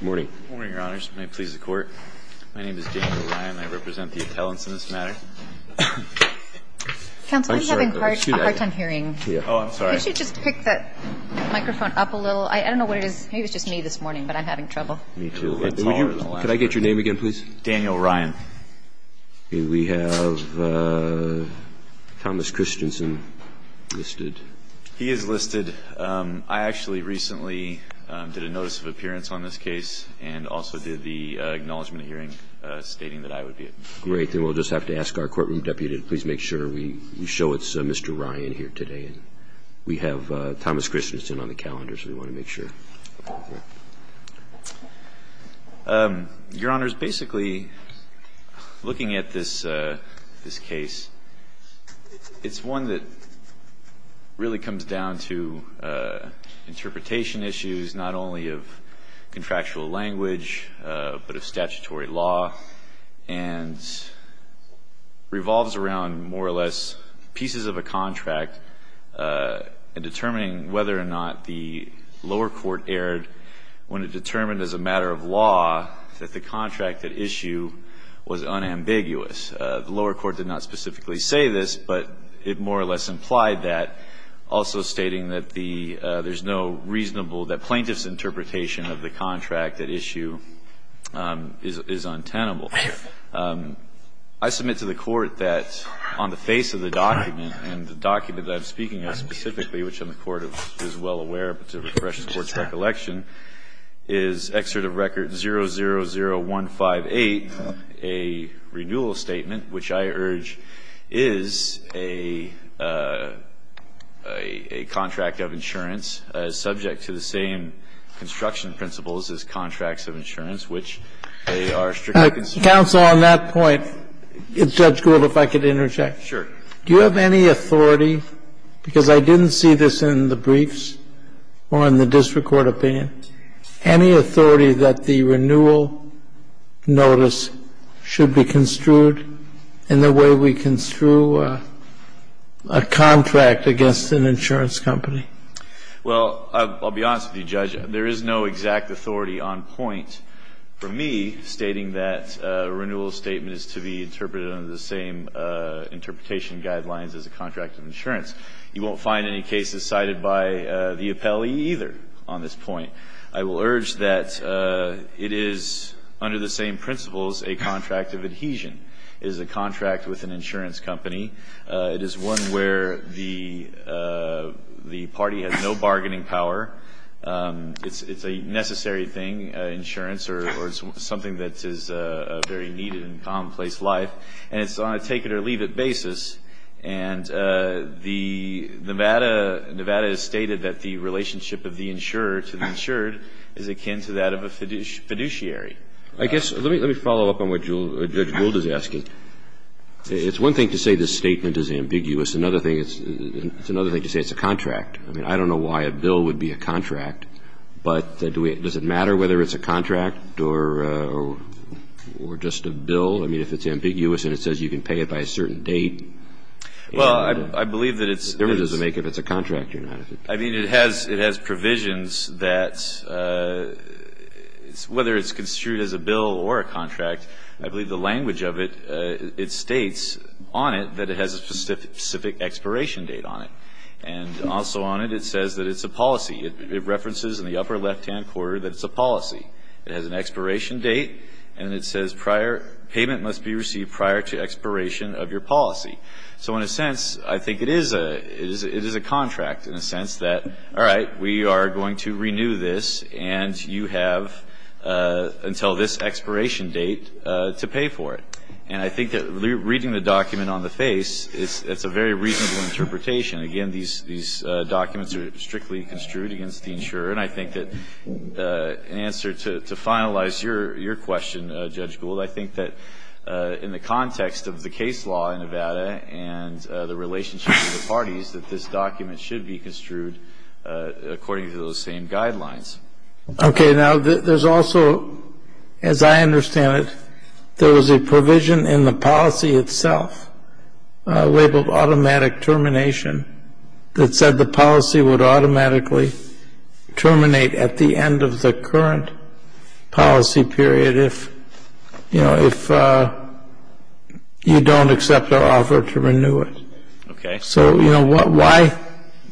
Good morning, Your Honors. May it please the Court. My name is Daniel Ryan. I represent the appellants in this matter. Counsel, we're having a hard time hearing. Oh, I'm sorry. Could you just pick that microphone up a little? I don't know what it is. Maybe it was just me this morning, but I'm having trouble. Me, too. Could I get your name again, please? Daniel Ryan. We have Thomas Christensen listed. He is listed. I actually recently did a notice of appearance on this case and also did the acknowledgment of hearing stating that I would be it. Great. Then we'll just have to ask our courtroom deputy to please make sure we show it's Mr. Ryan here today. We have Thomas Christensen on the calendar, so we want to make sure. Your Honors, basically, looking at this case, it's one that really comes down to interpretation issues, not only of contractual language, but of statutory law, and revolves around more or less pieces of a contract in determining whether or not the lower court erred when it determined as a matter of law that the contract at issue was unambiguous. The lower court did not specifically say this, but it more or less implied that, also stating that there's no reasonable, that plaintiff's interpretation of the contract at issue is untenable. I submit to the Court that on the face of the document, and the document that I'm speaking of specifically, which on the Court is well aware, but to refresh the Court's recollection, is Excerpt of Record 000158, a renewal statement, which I urge is a contract of insurance subject to the same construction principles as contracts of insurance, which they are strictly consistent with. Kennedy. Counsel, on that point, Judge Gould, if I could interject. Do you have any authority, because I didn't see this in the briefs or in the district court opinion, any authority that the renewal notice should be construed in the way we construe a contract against an insurance company? Well, I'll be honest with you, Judge. There is no exact authority on point for me stating that a renewal statement is to be interpreted under the same interpretation guidelines as a contract of insurance. You won't find any cases cited by the appellee either on this point. I will urge that it is, under the same principles, a contract of adhesion. It is a contract with an insurance company. It is one where the party has no bargaining power. It's a necessary thing, insurance, or it's something that is very needed in commonplace life, and it's on a take-it-or-leave-it basis. And the Nevada, Nevada has stated that the relationship of the insurer to the insured is akin to that of a fiduciary. I guess, let me follow up on what Judge Gould is asking. It's one thing to say this statement is ambiguous. Another thing, it's another thing to say it's a contract. I mean, I don't know why a bill would be a contract, but does it matter whether it's a contract or just a bill? I mean, if it's ambiguous and it says you can pay it by a certain date. Well, I believe that it's. It doesn't make it if it's a contract or not. I mean, it has provisions that, whether it's construed as a bill or a contract, I believe the language of it, it states on it that it has a specific expiration date on it. And also on it, it says that it's a policy. It references in the upper left-hand corner that it's a policy. It has an expiration date, and it says prior payment must be received prior to expiration of your policy. So in a sense, I think it is a contract in a sense that, all right, we are going to renew this, and you have until this expiration date to pay for it. And I think that reading the document on the face, it's a very reasonable interpretation. Again, these documents are strictly construed against the insurer. And I think that in answer to finalize your question, Judge Gould, I think that in the context of the case law in Nevada and the relationship with the parties, that this document should be construed according to those same guidelines. Okay. Now, there's also, as I understand it, there was a provision in the policy itself labeled automatic termination that said the policy would automatically terminate at the end of the current policy period if, you know, if you don't accept the offer to renew it. Okay. So, you know, why,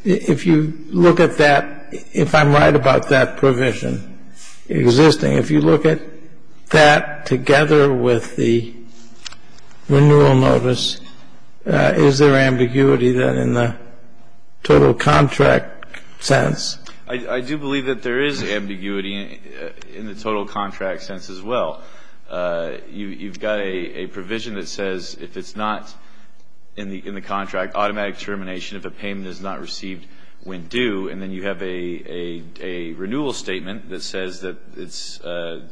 if you look at that, if I'm right about that provision existing, if you look at that together with the renewal notice, is there ambiguity then in the total contract sense? I do believe that there is ambiguity in the total contract sense as well. You've got a provision that says if it's not in the contract, automatic termination if a payment is not received when due. And then you have a renewal statement that says that it's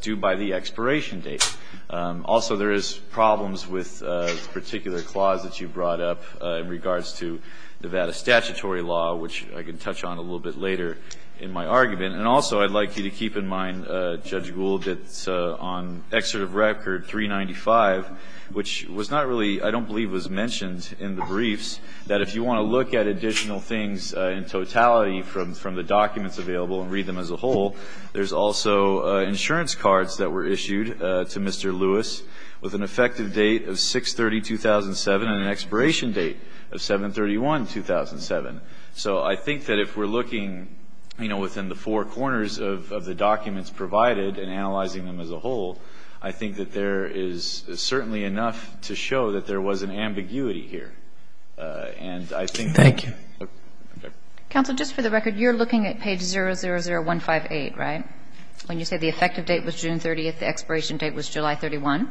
due by the expiration date. Also, there is problems with a particular clause that you brought up in regards to Nevada statutory law, which I can touch on a little bit later in my argument. And also, I'd like you to keep in mind, Judge Gould, that on excerpt of record 395, which was not really, I don't believe was mentioned in the briefs, that if you want to look at additional things in totality from the documents available and read them as a whole, there's also insurance cards that were issued to Mr. Lewis with an effective date of 6-30-2007 and an expiration date of 7-31-2007. So I think that if we're looking, you know, within the four corners of the documents provided and analyzing them as a whole, I think that there is certainly enough to show that there was an ambiguity here. And I think that there is. Kagan. Counsel, just for the record, you're looking at page 000158, right? When you said the effective date was June 30th, the expiration date was July 31?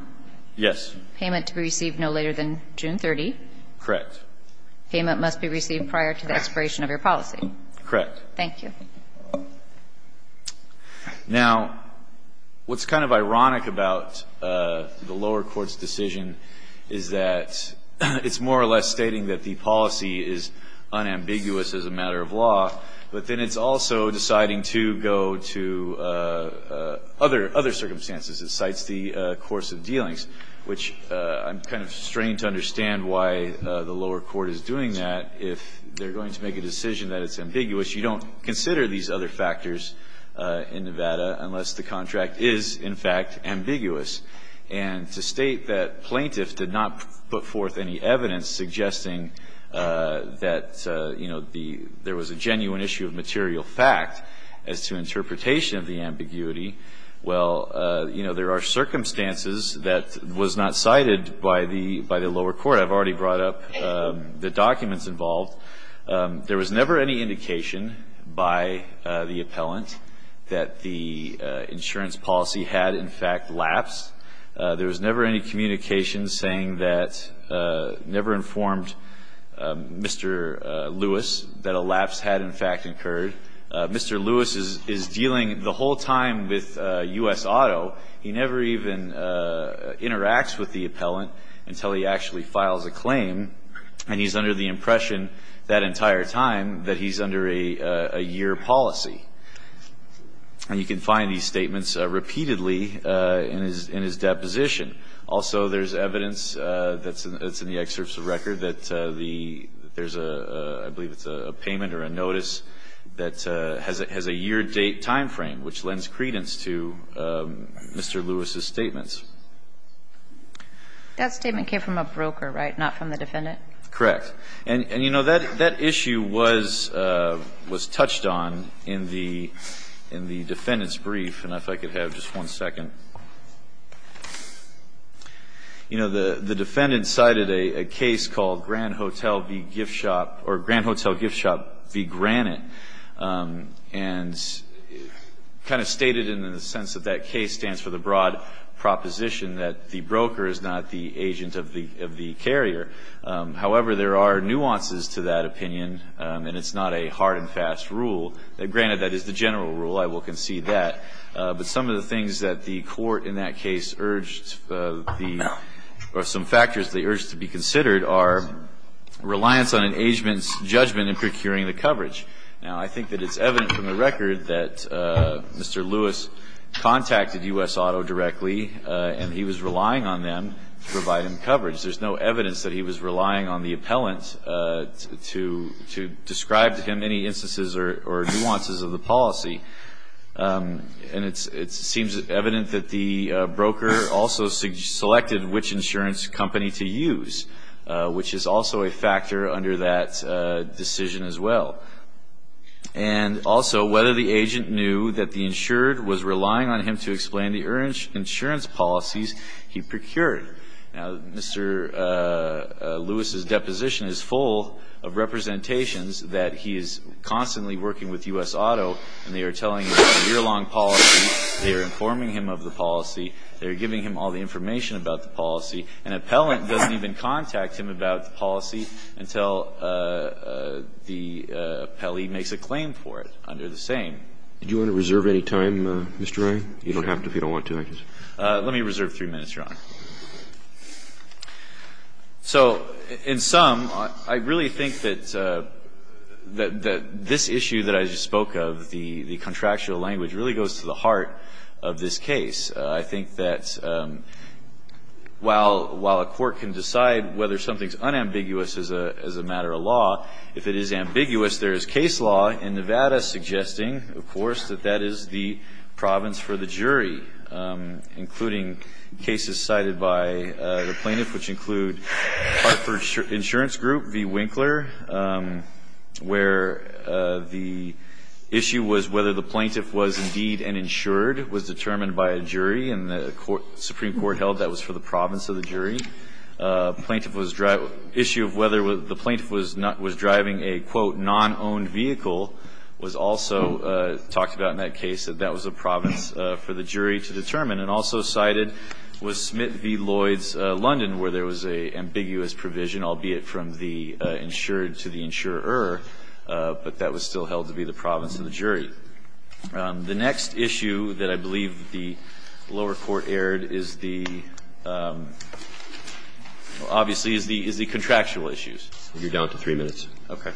Yes. Payment to be received no later than June 30? Correct. Payment must be received prior to the expiration of your policy? Correct. Thank you. Now, what's kind of ironic about the lower court's decision is that it's more or less stating that the policy is unambiguous as a matter of law, but then it's also deciding to go to other circumstances. It cites the course of dealings, which I'm kind of strained to understand why the lower court is doing that. If they're going to make a decision that it's ambiguous, you don't consider these other factors in Nevada unless the contract is, in fact, ambiguous. And to state that plaintiffs did not put forth any evidence suggesting that, you know, there was a genuine issue of material fact as to interpretation of the ambiguity, well, you know, there are circumstances that was not cited by the lower court. I've already brought up the documents involved. There was never any indication by the appellant that the insurance policy had, in fact, elapsed. There was never any communication saying that, never informed Mr. Lewis that a lapse had, in fact, occurred. Mr. Lewis is dealing the whole time with U.S. Auto. He never even interacts with the appellant until he actually files a claim. And he's under the impression that entire time that he's under a year policy. And you can find these statements repeatedly in his deposition. Also, there's evidence that's in the excerpts of record that there's a, I believe it's a payment or a notice that has a year date timeframe, which lends credence to Mr. Lewis's statements. That statement came from a broker, right, not from the defendant? Correct. And, you know, that issue was touched on in the defendant's brief. And if I could have just one second. You know, the defendant cited a case called Grand Hotel v. Gift Shop or Grand Hotel Gift Shop v. Granite and kind of stated in the sense that that case stands for the broad proposition that the broker is not the agent of the carrier. However, there are nuances to that opinion, and it's not a hard and fast rule. Granted, that is the general rule. I will concede that. But some of the things that the court in that case urged the or some factors they urged to be considered are reliance on an agent's judgment in procuring the coverage. Now, I think that it's evident from the record that Mr. Lewis contacted U.S. Auto directly, and he was relying on them to provide him coverage. There's no evidence that he was relying on the appellant to describe to him any instances or nuances of the policy. And it seems evident that the broker also selected which insurance company to use, which is also a factor under that decision as well. And also, whether the agent knew that the insured was relying on him to explain the insurance policies he procured. Now, Mr. Lewis's deposition is full of representations that he is constantly working with U.S. Auto, and they are telling him about the year-long policy. They are informing him of the policy. They are giving him all the information about the policy. An appellant doesn't even contact him about the policy until the appellee makes a claim for it under the same. Do you want to reserve any time, Mr. Ryan? You don't have to if you don't want to. Let me reserve three minutes, Your Honor. So in sum, I really think that this issue that I just spoke of, the contractual language, really goes to the heart of this case. I think that while a court can decide whether something is unambiguous as a matter of law, if it is ambiguous, there is case law in Nevada suggesting, of course, that that is the province for the jury, including cases cited by the plaintiff, which include Hartford Insurance Group v. Winkler, where the issue was whether the plaintiff was indeed uninsured was determined by a jury, and the Supreme Court held that was for the province of the jury. The issue of whether the plaintiff was driving a, quote, non-owned vehicle was also talked about in that case, that that was a province for the jury to determine, and also cited was Smith v. Lloyds, London, where there was an ambiguous provision, albeit from the insured to the insurer, but that was still held to be the province of the jury. The next issue that I believe the lower court aired is the, obviously, is the contractual issues. You're down to three minutes. Okay.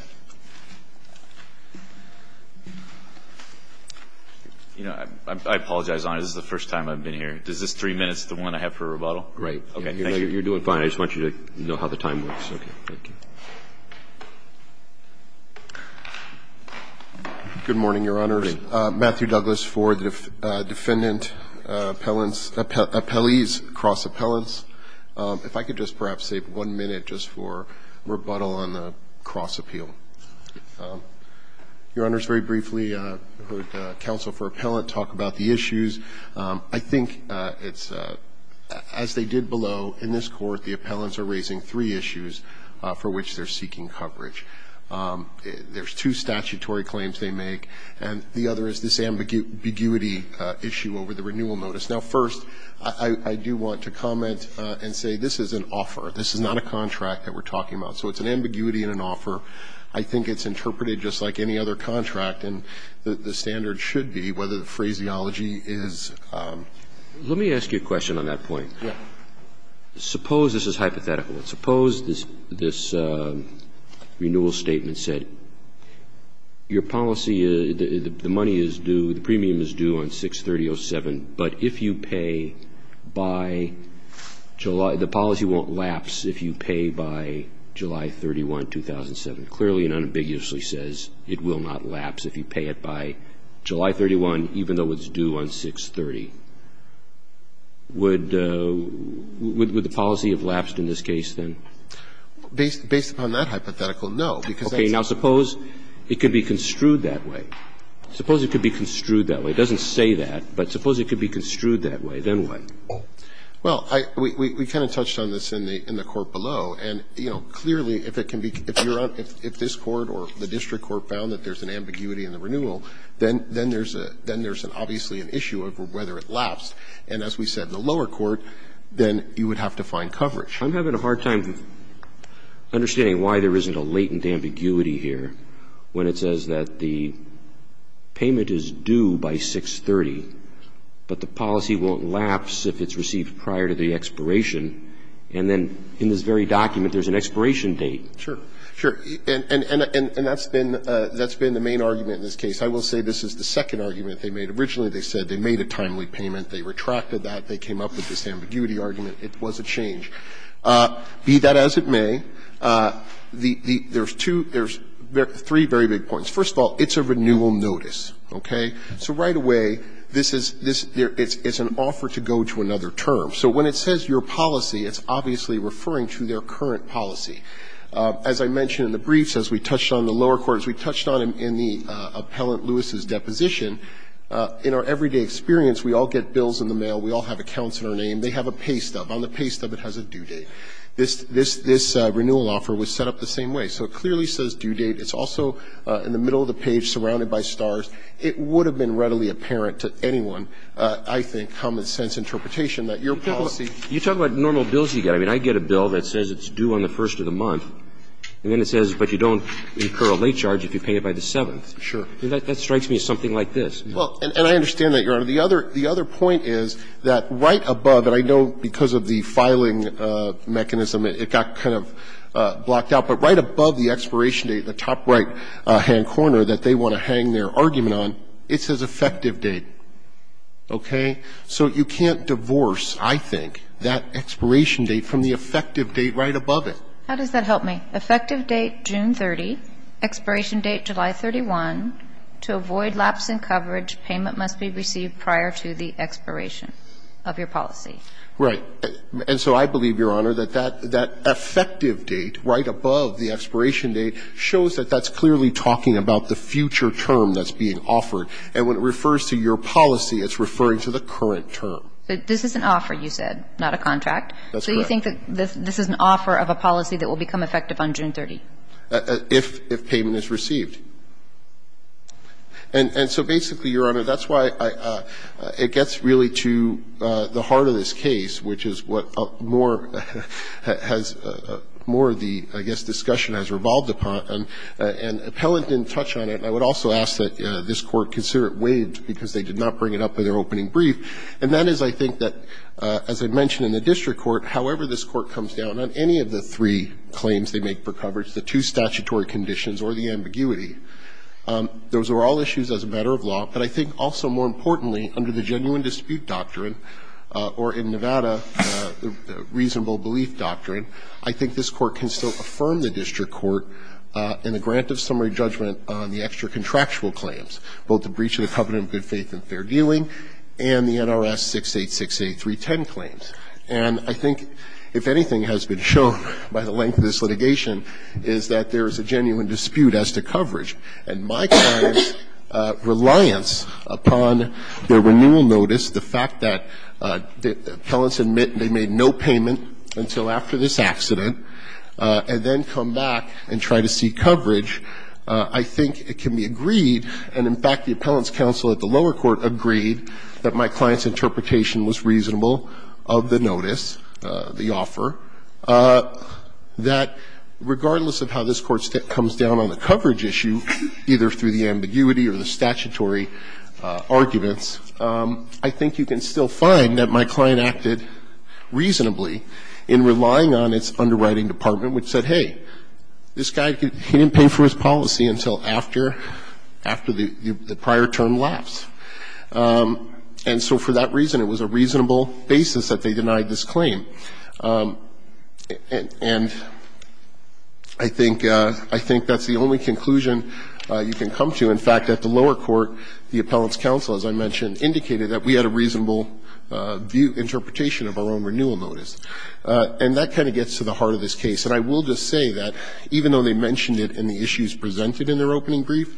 You know, I apologize, Your Honor. This is the first time I've been here. Is this three minutes, the one I have for rebuttal? Right. Okay. Thank you. You're doing fine. I just want you to know how the time works. Okay. Thank you. Good morning, Your Honor. Good morning. Matthew Douglas for the defendant appellants, appellees, cross appellants. If I could just perhaps save one minute just for rebuttal on the cross appeal. Your Honors, very briefly, I heard counsel for appellant talk about the issues. I think it's, as they did below in this court, the appellants are raising three issues for which they're seeking coverage. There's two statutory claims they make, and the other is this ambiguity issue over the renewal notice. Now, first, I do want to comment and say this is an offer. This is not a contract that we're talking about. So it's an ambiguity and an offer. I think it's interpreted just like any other contract, and the standard should be whether the phraseology is. Let me ask you a question on that point. Yeah. Suppose this is hypothetical. Suppose this renewal statement said, your policy, the money is due, the premium is due, if you pay by July, the policy won't lapse if you pay by July 31, 2007. Clearly it unambiguously says it will not lapse if you pay it by July 31, even though it's due on 630. Would the policy have lapsed in this case, then? Based upon that hypothetical, no. Okay. Now, suppose it could be construed that way. Suppose it could be construed that way. It doesn't say that, but suppose it could be construed that way. Then what? Well, I – we kind of touched on this in the court below, and, you know, clearly if it can be – if you're on – if this court or the district court found that there's an ambiguity in the renewal, then there's a – then there's obviously an issue of whether it lapsed. And as we said in the lower court, then you would have to find coverage. I'm having a hard time understanding why there isn't a latent ambiguity here when it says that the payment is due by 630, but the policy won't lapse if it's received prior to the expiration, and then in this very document there's an expiration date. Sure. Sure. And that's been – that's been the main argument in this case. I will say this is the second argument they made. Originally they said they made a timely payment. They retracted that. They came up with this ambiguity argument. It was a change. Be that as it may, the – there's two – there's three very big points. First of all, it's a renewal notice. Okay? So right away, this is – this – it's an offer to go to another term. So when it says your policy, it's obviously referring to their current policy. As I mentioned in the briefs, as we touched on in the lower court, as we touched on in the Appellant Lewis's deposition, in our everyday experience we all get bills in the mail. We all have accounts in our name. They have a paystub. On the paystub it has a due date. This – this renewal offer was set up the same way. So it clearly says due date. It's also in the middle of the page surrounded by stars. It would have been readily apparent to anyone, I think, common sense interpretation that your policy – You talk about normal bills you get. I mean, I get a bill that says it's due on the first of the month, and then it says, but you don't incur a late charge if you pay it by the seventh. Sure. That strikes me as something like this. Well, and I understand that, Your Honor. The other – the other point is that right above it, I know because of the filing mechanism it got kind of blocked out, but right above the expiration date, the top right-hand corner that they want to hang their argument on, it says effective date. Okay? So you can't divorce, I think, that expiration date from the effective date right above it. How does that help me? Effective date, June 30, expiration date, July 31. To avoid lapse in coverage, payment must be received prior to the expiration of your policy. Right. And so I believe, Your Honor, that that effective date right above the expiration date shows that that's clearly talking about the future term that's being offered, and when it refers to your policy, it's referring to the current term. This is an offer, you said, not a contract. That's correct. So you think that this is an offer of a policy that will become effective on June 30? If payment is received. And so basically, Your Honor, that's why I – it gets really to the heart of this case, which is what more has – more of the, I guess, discussion has revolved upon, and appellant didn't touch on it, and I would also ask that this Court consider it waived because they did not bring it up in their opening brief, and that is, I think, that, as I mentioned in the district court, however this court comes down on any of the three claims they make for coverage, the two statutory conditions or the ambiguity. Those are all issues as a matter of law. But I think also, more importantly, under the genuine dispute doctrine or in Nevada the reasonable belief doctrine, I think this Court can still affirm the district court in the grant of summary judgment on the extra contractual claims, both the breach of the covenant of good faith and fair dealing and the NRS 6868310 claims. And I think, if anything has been shown by the length of this litigation, is that there is a genuine dispute as to coverage. And my client's reliance upon the renewal notice, the fact that the appellants admit they made no payment until after this accident and then come back and try to see coverage, I think it can be agreed, and in fact, the appellant's counsel at the lower court agreed that my client's interpretation was reasonable of the notice, the offer, that regardless of how this Court comes down on the coverage issue, either through the ambiguity or the statutory arguments, I think you can still find that my client acted reasonably in relying on its underwriting department, which said, hey, this guy, he didn't pay for his policy until after the prior term lapsed. And so for that reason, it was a reasonable basis that they denied this claim. And I think that's the only conclusion you can come to. In fact, at the lower court, the appellant's counsel, as I mentioned, indicated that we had a reasonable interpretation of our own renewal notice. And that kind of gets to the heart of this case. And I will just say that even though they mentioned it in the issues presented in their opening brief,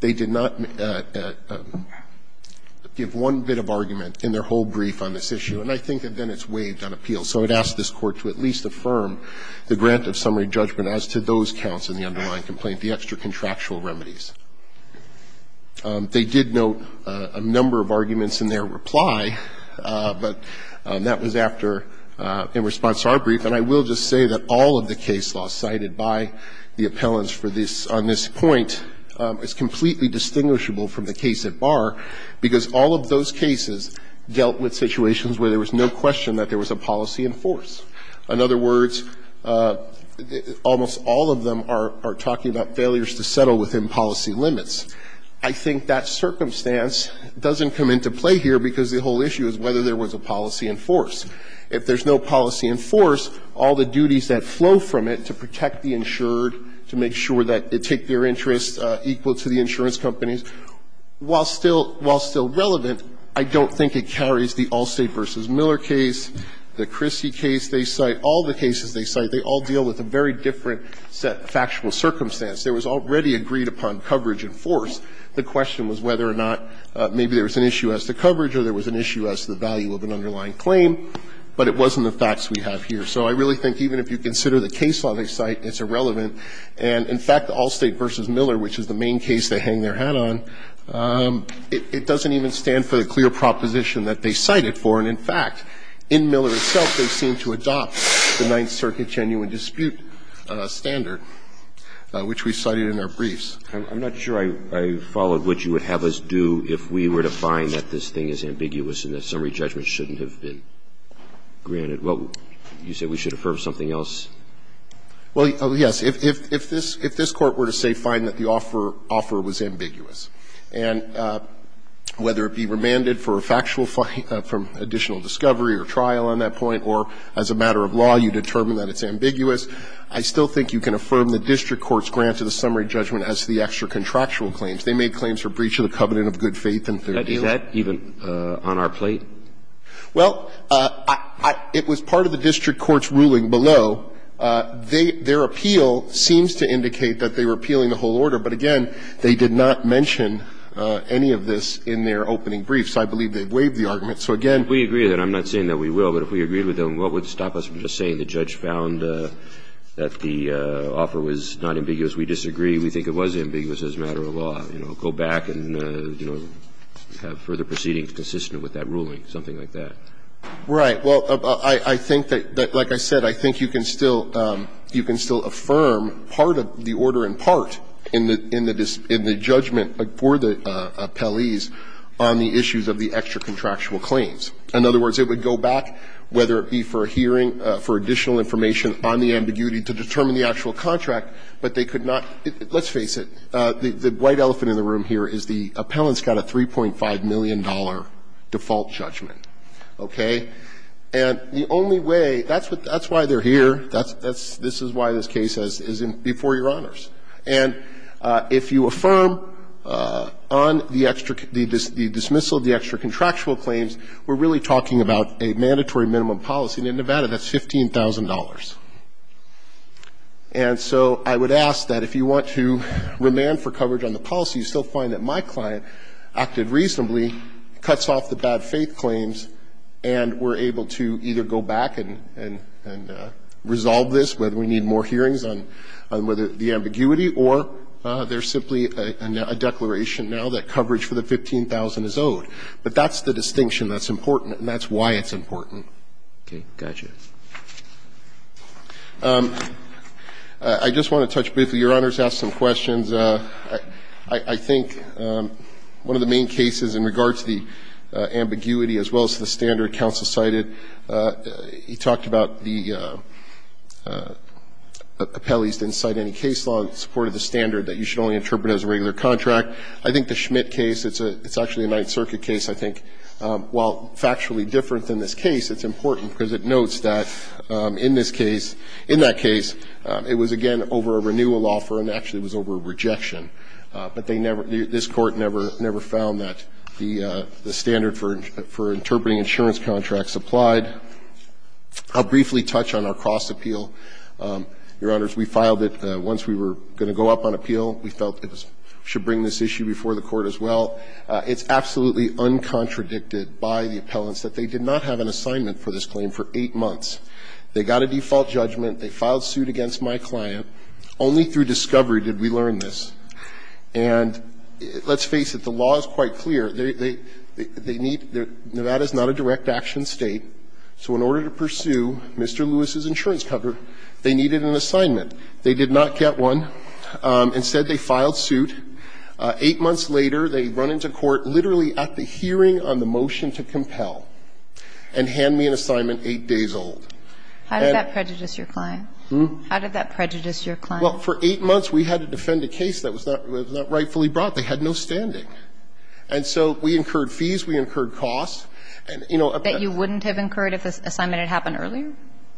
they did not give one bit of argument in their whole brief on this issue. And I think that then it's waived on appeal. So it asks this Court to at least affirm the grant of summary judgment as to those counts in the underlying complaint, the extra-contractual remedies. They did note a number of arguments in their reply, but that was after the appellant in response to our brief. And I will just say that all of the case law cited by the appellants for this, on this point, is completely distinguishable from the case at bar, because all of those cases dealt with situations where there was no question that there was a policy in force. In other words, almost all of them are talking about failures to settle within policy limits. I think that circumstance doesn't come into play here because the whole issue is whether there was a policy in force. If there's no policy in force, all the duties that flow from it to protect the insured, to make sure that they take their interests equal to the insurance companies, while still relevant, I don't think it carries the Allstate v. Miller case, the Christie case they cite, all the cases they cite, they all deal with a very different factual circumstance. There was already agreed upon coverage in force. The question was whether or not maybe there was an issue as to coverage or there was an issue as to the value of an underlying claim, but it wasn't the facts we have here. So I really think even if you consider the case law they cite, it's irrelevant. And in fact, Allstate v. Miller, which is the main case they hang their hat on, it doesn't even stand for the clear proposition that they cite it for. And in fact, in Miller itself, they seem to adopt the Ninth Circuit genuine dispute standard, which we cited in our briefs. I'm not sure I followed what you would have us do if we were to find that this thing is ambiguous and the summary judgment shouldn't have been granted. Well, you said we should affirm something else? Well, yes. If this Court were to say, fine, that the offer was ambiguous, and whether it be remanded for a factual from additional discovery or trial on that point, or as a matter of law you determine that it's ambiguous, I still think you can affirm the district courts granted a summary judgment as to the extra contractual claims. They made claims for breach of the covenant of good faith and fair dealing. Is that even on our plate? Well, it was part of the district court's ruling below. Their appeal seems to indicate that they were appealing the whole order. But again, they did not mention any of this in their opening briefs. I believe they waived the argument. So again, we agree with that. I'm not saying that we will. But if we agreed with them, what would stop us from just saying the judge found that the offer was not ambiguous, we disagree, we think it was ambiguous as a matter of law, go back and have further proceedings consistent with that ruling, something like that. Right. Well, I think that, like I said, I think you can still affirm part of the order in part in the judgment for the appellees on the issues of the extra contractual claims. In other words, it would go back, whether it be for a hearing, for additional information on the ambiguity to determine the actual contract, but they could not, let's face it, the white elephant in the room here is the appellant's got a $3.5 million default judgment, okay? And the only way, that's why they're here, that's why this case is before Your Honors. And if you affirm on the dismissal of the extra contractual claims, we're really talking about a mandatory minimum policy, and in Nevada, that's $15,000. And so I would ask that if you want to remand for coverage on the policy, you still find that my client acted reasonably, cuts off the bad faith claims, and we're able to either go back and resolve this, whether we need more hearings on whether the ambiguity or there's simply a declaration now that coverage for the $15,000 is owed. But that's the distinction that's important, and that's why it's important. Roberts. Okay. Got you. I just want to touch briefly. Your Honors asked some questions. I think one of the main cases in regards to the ambiguity as well as the standard counsel cited, he talked about the appellees didn't cite any case law in support of the standard that you should only interpret as a regular contract. I think the Schmidt case, it's actually a Ninth Circuit case. I think while factually different than this case, it's important because it notes that in this case, in that case, it was, again, over a renewal offer and actually it was over a rejection, but they never, this Court never found that the standard for interpreting insurance contracts applied. I'll briefly touch on our cross-appeal. Your Honors, we filed it once we were going to go up on appeal. We felt it should bring this issue before the Court as well. It's absolutely uncontradicted by the appellants that they did not have an assignment for this claim for eight months. They got a default judgment. They filed suit against my client. Only through discovery did we learn this. And let's face it, the law is quite clear. They need, Nevada is not a direct action State, so in order to pursue Mr. Lewis's insurance cover, they needed an assignment. They did not get one. Instead, they filed suit. Eight months later, they run into court literally at the hearing on the motion to compel and hand me an assignment eight days old. And that prejudice your client? How did that prejudice your client? Well, for eight months, we had to defend a case that was not rightfully brought. They had no standing. And so we incurred fees. We incurred costs. And, you know, a bet you wouldn't have incurred if this assignment had happened earlier?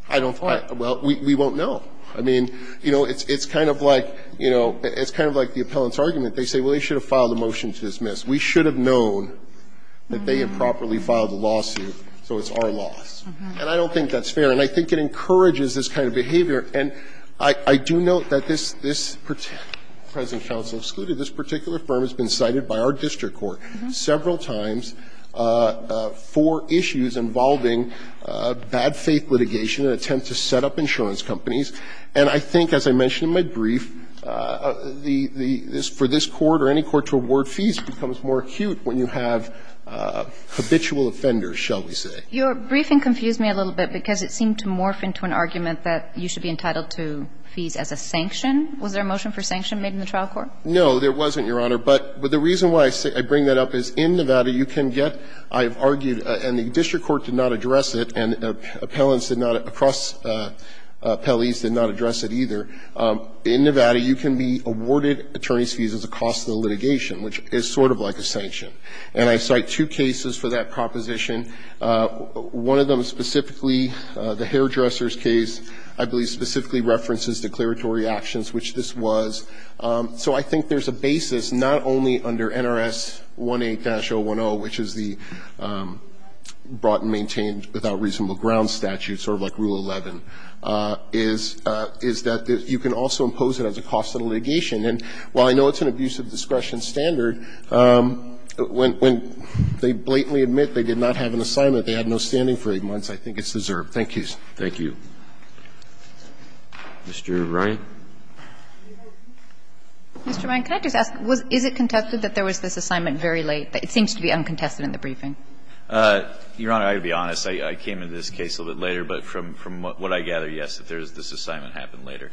I don't know. Well, we won't know. I mean, you know, it's kind of like, you know, it's kind of like the appellant's argument. They say, well, you should have filed a motion to dismiss. We should have known that they had properly filed a lawsuit, so it's our loss. And I don't think that's fair. And I think it encourages this kind of behavior. And I do note that this particular, President Counsel excluded, this particular firm has been cited by our district court several times for issues involving bad faith litigation and attempt to set up insurance companies. And I think, as I mentioned in my brief, the – for this court or any court to award fees becomes more acute when you have habitual offenders, shall we say. Your briefing confused me a little bit because it seemed to morph into an argument that you should be entitled to fees as a sanction. Was there a motion for sanction made in the trial court? No, there wasn't, Your Honor. But the reason why I bring that up is in Nevada, you can get, I've argued, and the court did not address it, and appellants did not, cross-appellees did not address it either. In Nevada, you can be awarded attorney's fees as a cost of the litigation, which is sort of like a sanction. And I cite two cases for that proposition. One of them specifically, the hairdresser's case, I believe specifically references declaratory actions, which this was. So I think there's a basis not only under NRS 18-010, which is the brought and maintained without reasonable ground statute, sort of like Rule 11, is that you can also impose it as a cost of litigation. And while I know it's an abusive discretion standard, when they blatantly admit they did not have an assignment, they had no standing for 8 months, I think it's deserved. Thank you. Thank you. Mr. Ryan. Mr. Ryan, can I just ask, is it contested that there was this assignment very late? It seems to be uncontested in the briefing. Your Honor, I'll be honest. I came into this case a little bit later, but from what I gather, yes, this assignment happened later.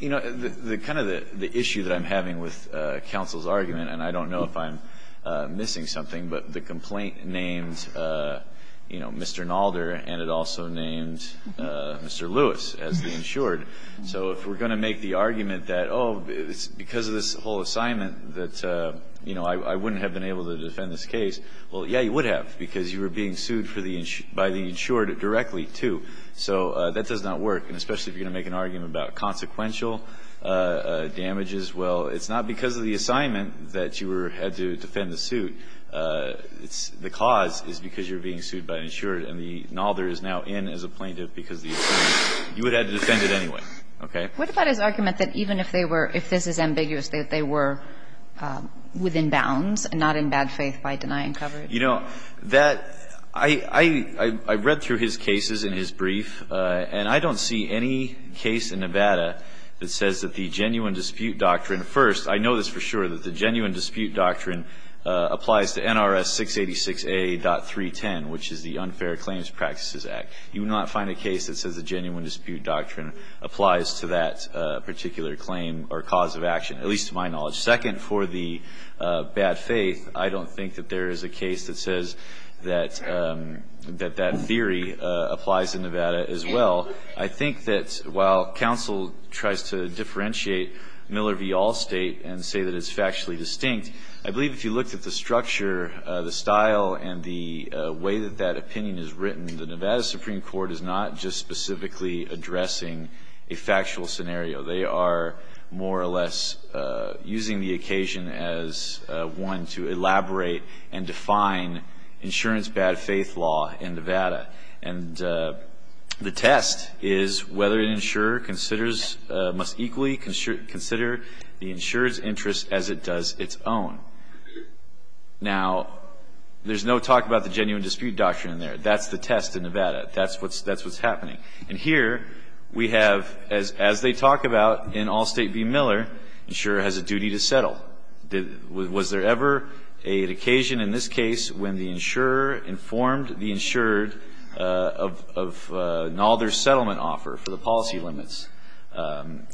You know, the kind of the issue that I'm having with counsel's argument, and I don't know if I'm missing something, but the complaint named, you know, Mr. Nalder and it also named Mr. Lewis as the insured. So if we're going to make the argument that, oh, because of this whole assignment that, you know, I wouldn't have been able to defend this case, well, yeah, you would have, because you were being sued by the insured directly, too. So that does not work, and especially if you're going to make an argument about consequential damages, well, it's not because of the assignment that you had to defend the suit. The cause is because you're being sued by an insured, and the Nalder is now in as a plaintiff because of the assignment. You would have had to defend it anyway. Okay? What about his argument that even if they were – if this is ambiguous, that they were within bounds and not in bad faith by denying coverage? You know, that – I read through his cases in his brief, and I don't see any case in Nevada that says that the genuine dispute doctrine – first, I know this for sure – that the genuine dispute doctrine applies to NRS 686a.310, which is the Unfair Claims Practices Act. You would not find a case that says the genuine dispute doctrine applies to that particular claim or cause of action, at least to my knowledge. Second, for the bad faith, I don't think that there is a case that says that that theory applies in Nevada as well. I think that while counsel tries to differentiate Miller v. Allstate and say that it's factually distinct, I believe if you looked at the structure, the style and the way that that opinion is written, the Nevada Supreme Court is not just specifically addressing a factual scenario. They are more or less using the occasion as one to elaborate and define insurance bad faith law in Nevada. And the test is whether an insurer considers – must equally consider the insurer's interest as it does its own. Now, there's no talk about the genuine dispute doctrine in there. That's the test in Nevada. That's what's happening. And here, we have, as they talk about in Allstate v. Miller, insurer has a duty to settle. Was there ever an occasion in this case when the insurer informed the insured of an alder settlement offer for the policy limits?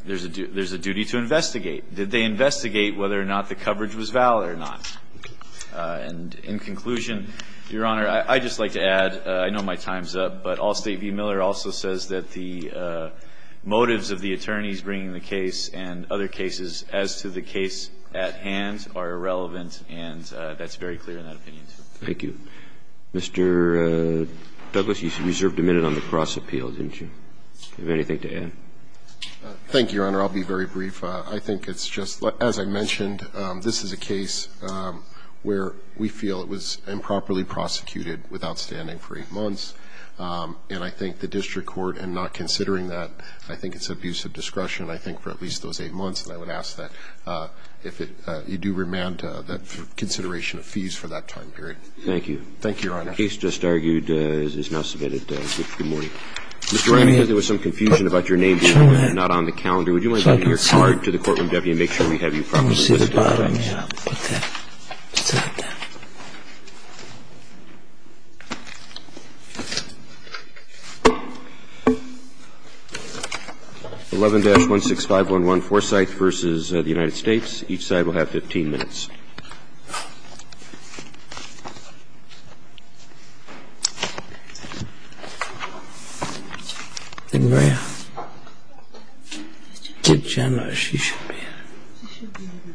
There's a duty to investigate. Did they investigate whether or not the coverage was valid or not? And in conclusion, Your Honor, I'd just like to add, I know my time's up, but Allstate v. Miller also says that the motives of the attorneys bringing the case and other cases as to the case at hand are irrelevant, and that's very clear in that opinion. Thank you. Mr. Douglas, you reserved a minute on the cross-appeal, didn't you? Do you have anything to add? Thank you, Your Honor. I'll be very brief. I think it's just, as I mentioned, this is a case where we feel it was improperly submitted, and I think the district court, in not considering that, I think it's abuse of discretion, I think, for at least those eight months, and I would ask that if you do remand that consideration of fees for that time period. Thank you. Thank you, Your Honor. The case just argued is now submitted. Good morning. Mr. O'Reilly, I heard there was some confusion about your name being not on the calendar. Would you mind giving your card to the courtroom deputy and make sure we have you properly listed? Well, let me put that down. 11-16511 Forsyth v. The United States. Each side will have 15 minutes. Then may I? Yes, Your Honor. Judge General, as she should be. She should be, Your Honor. Gentleman, bring it over.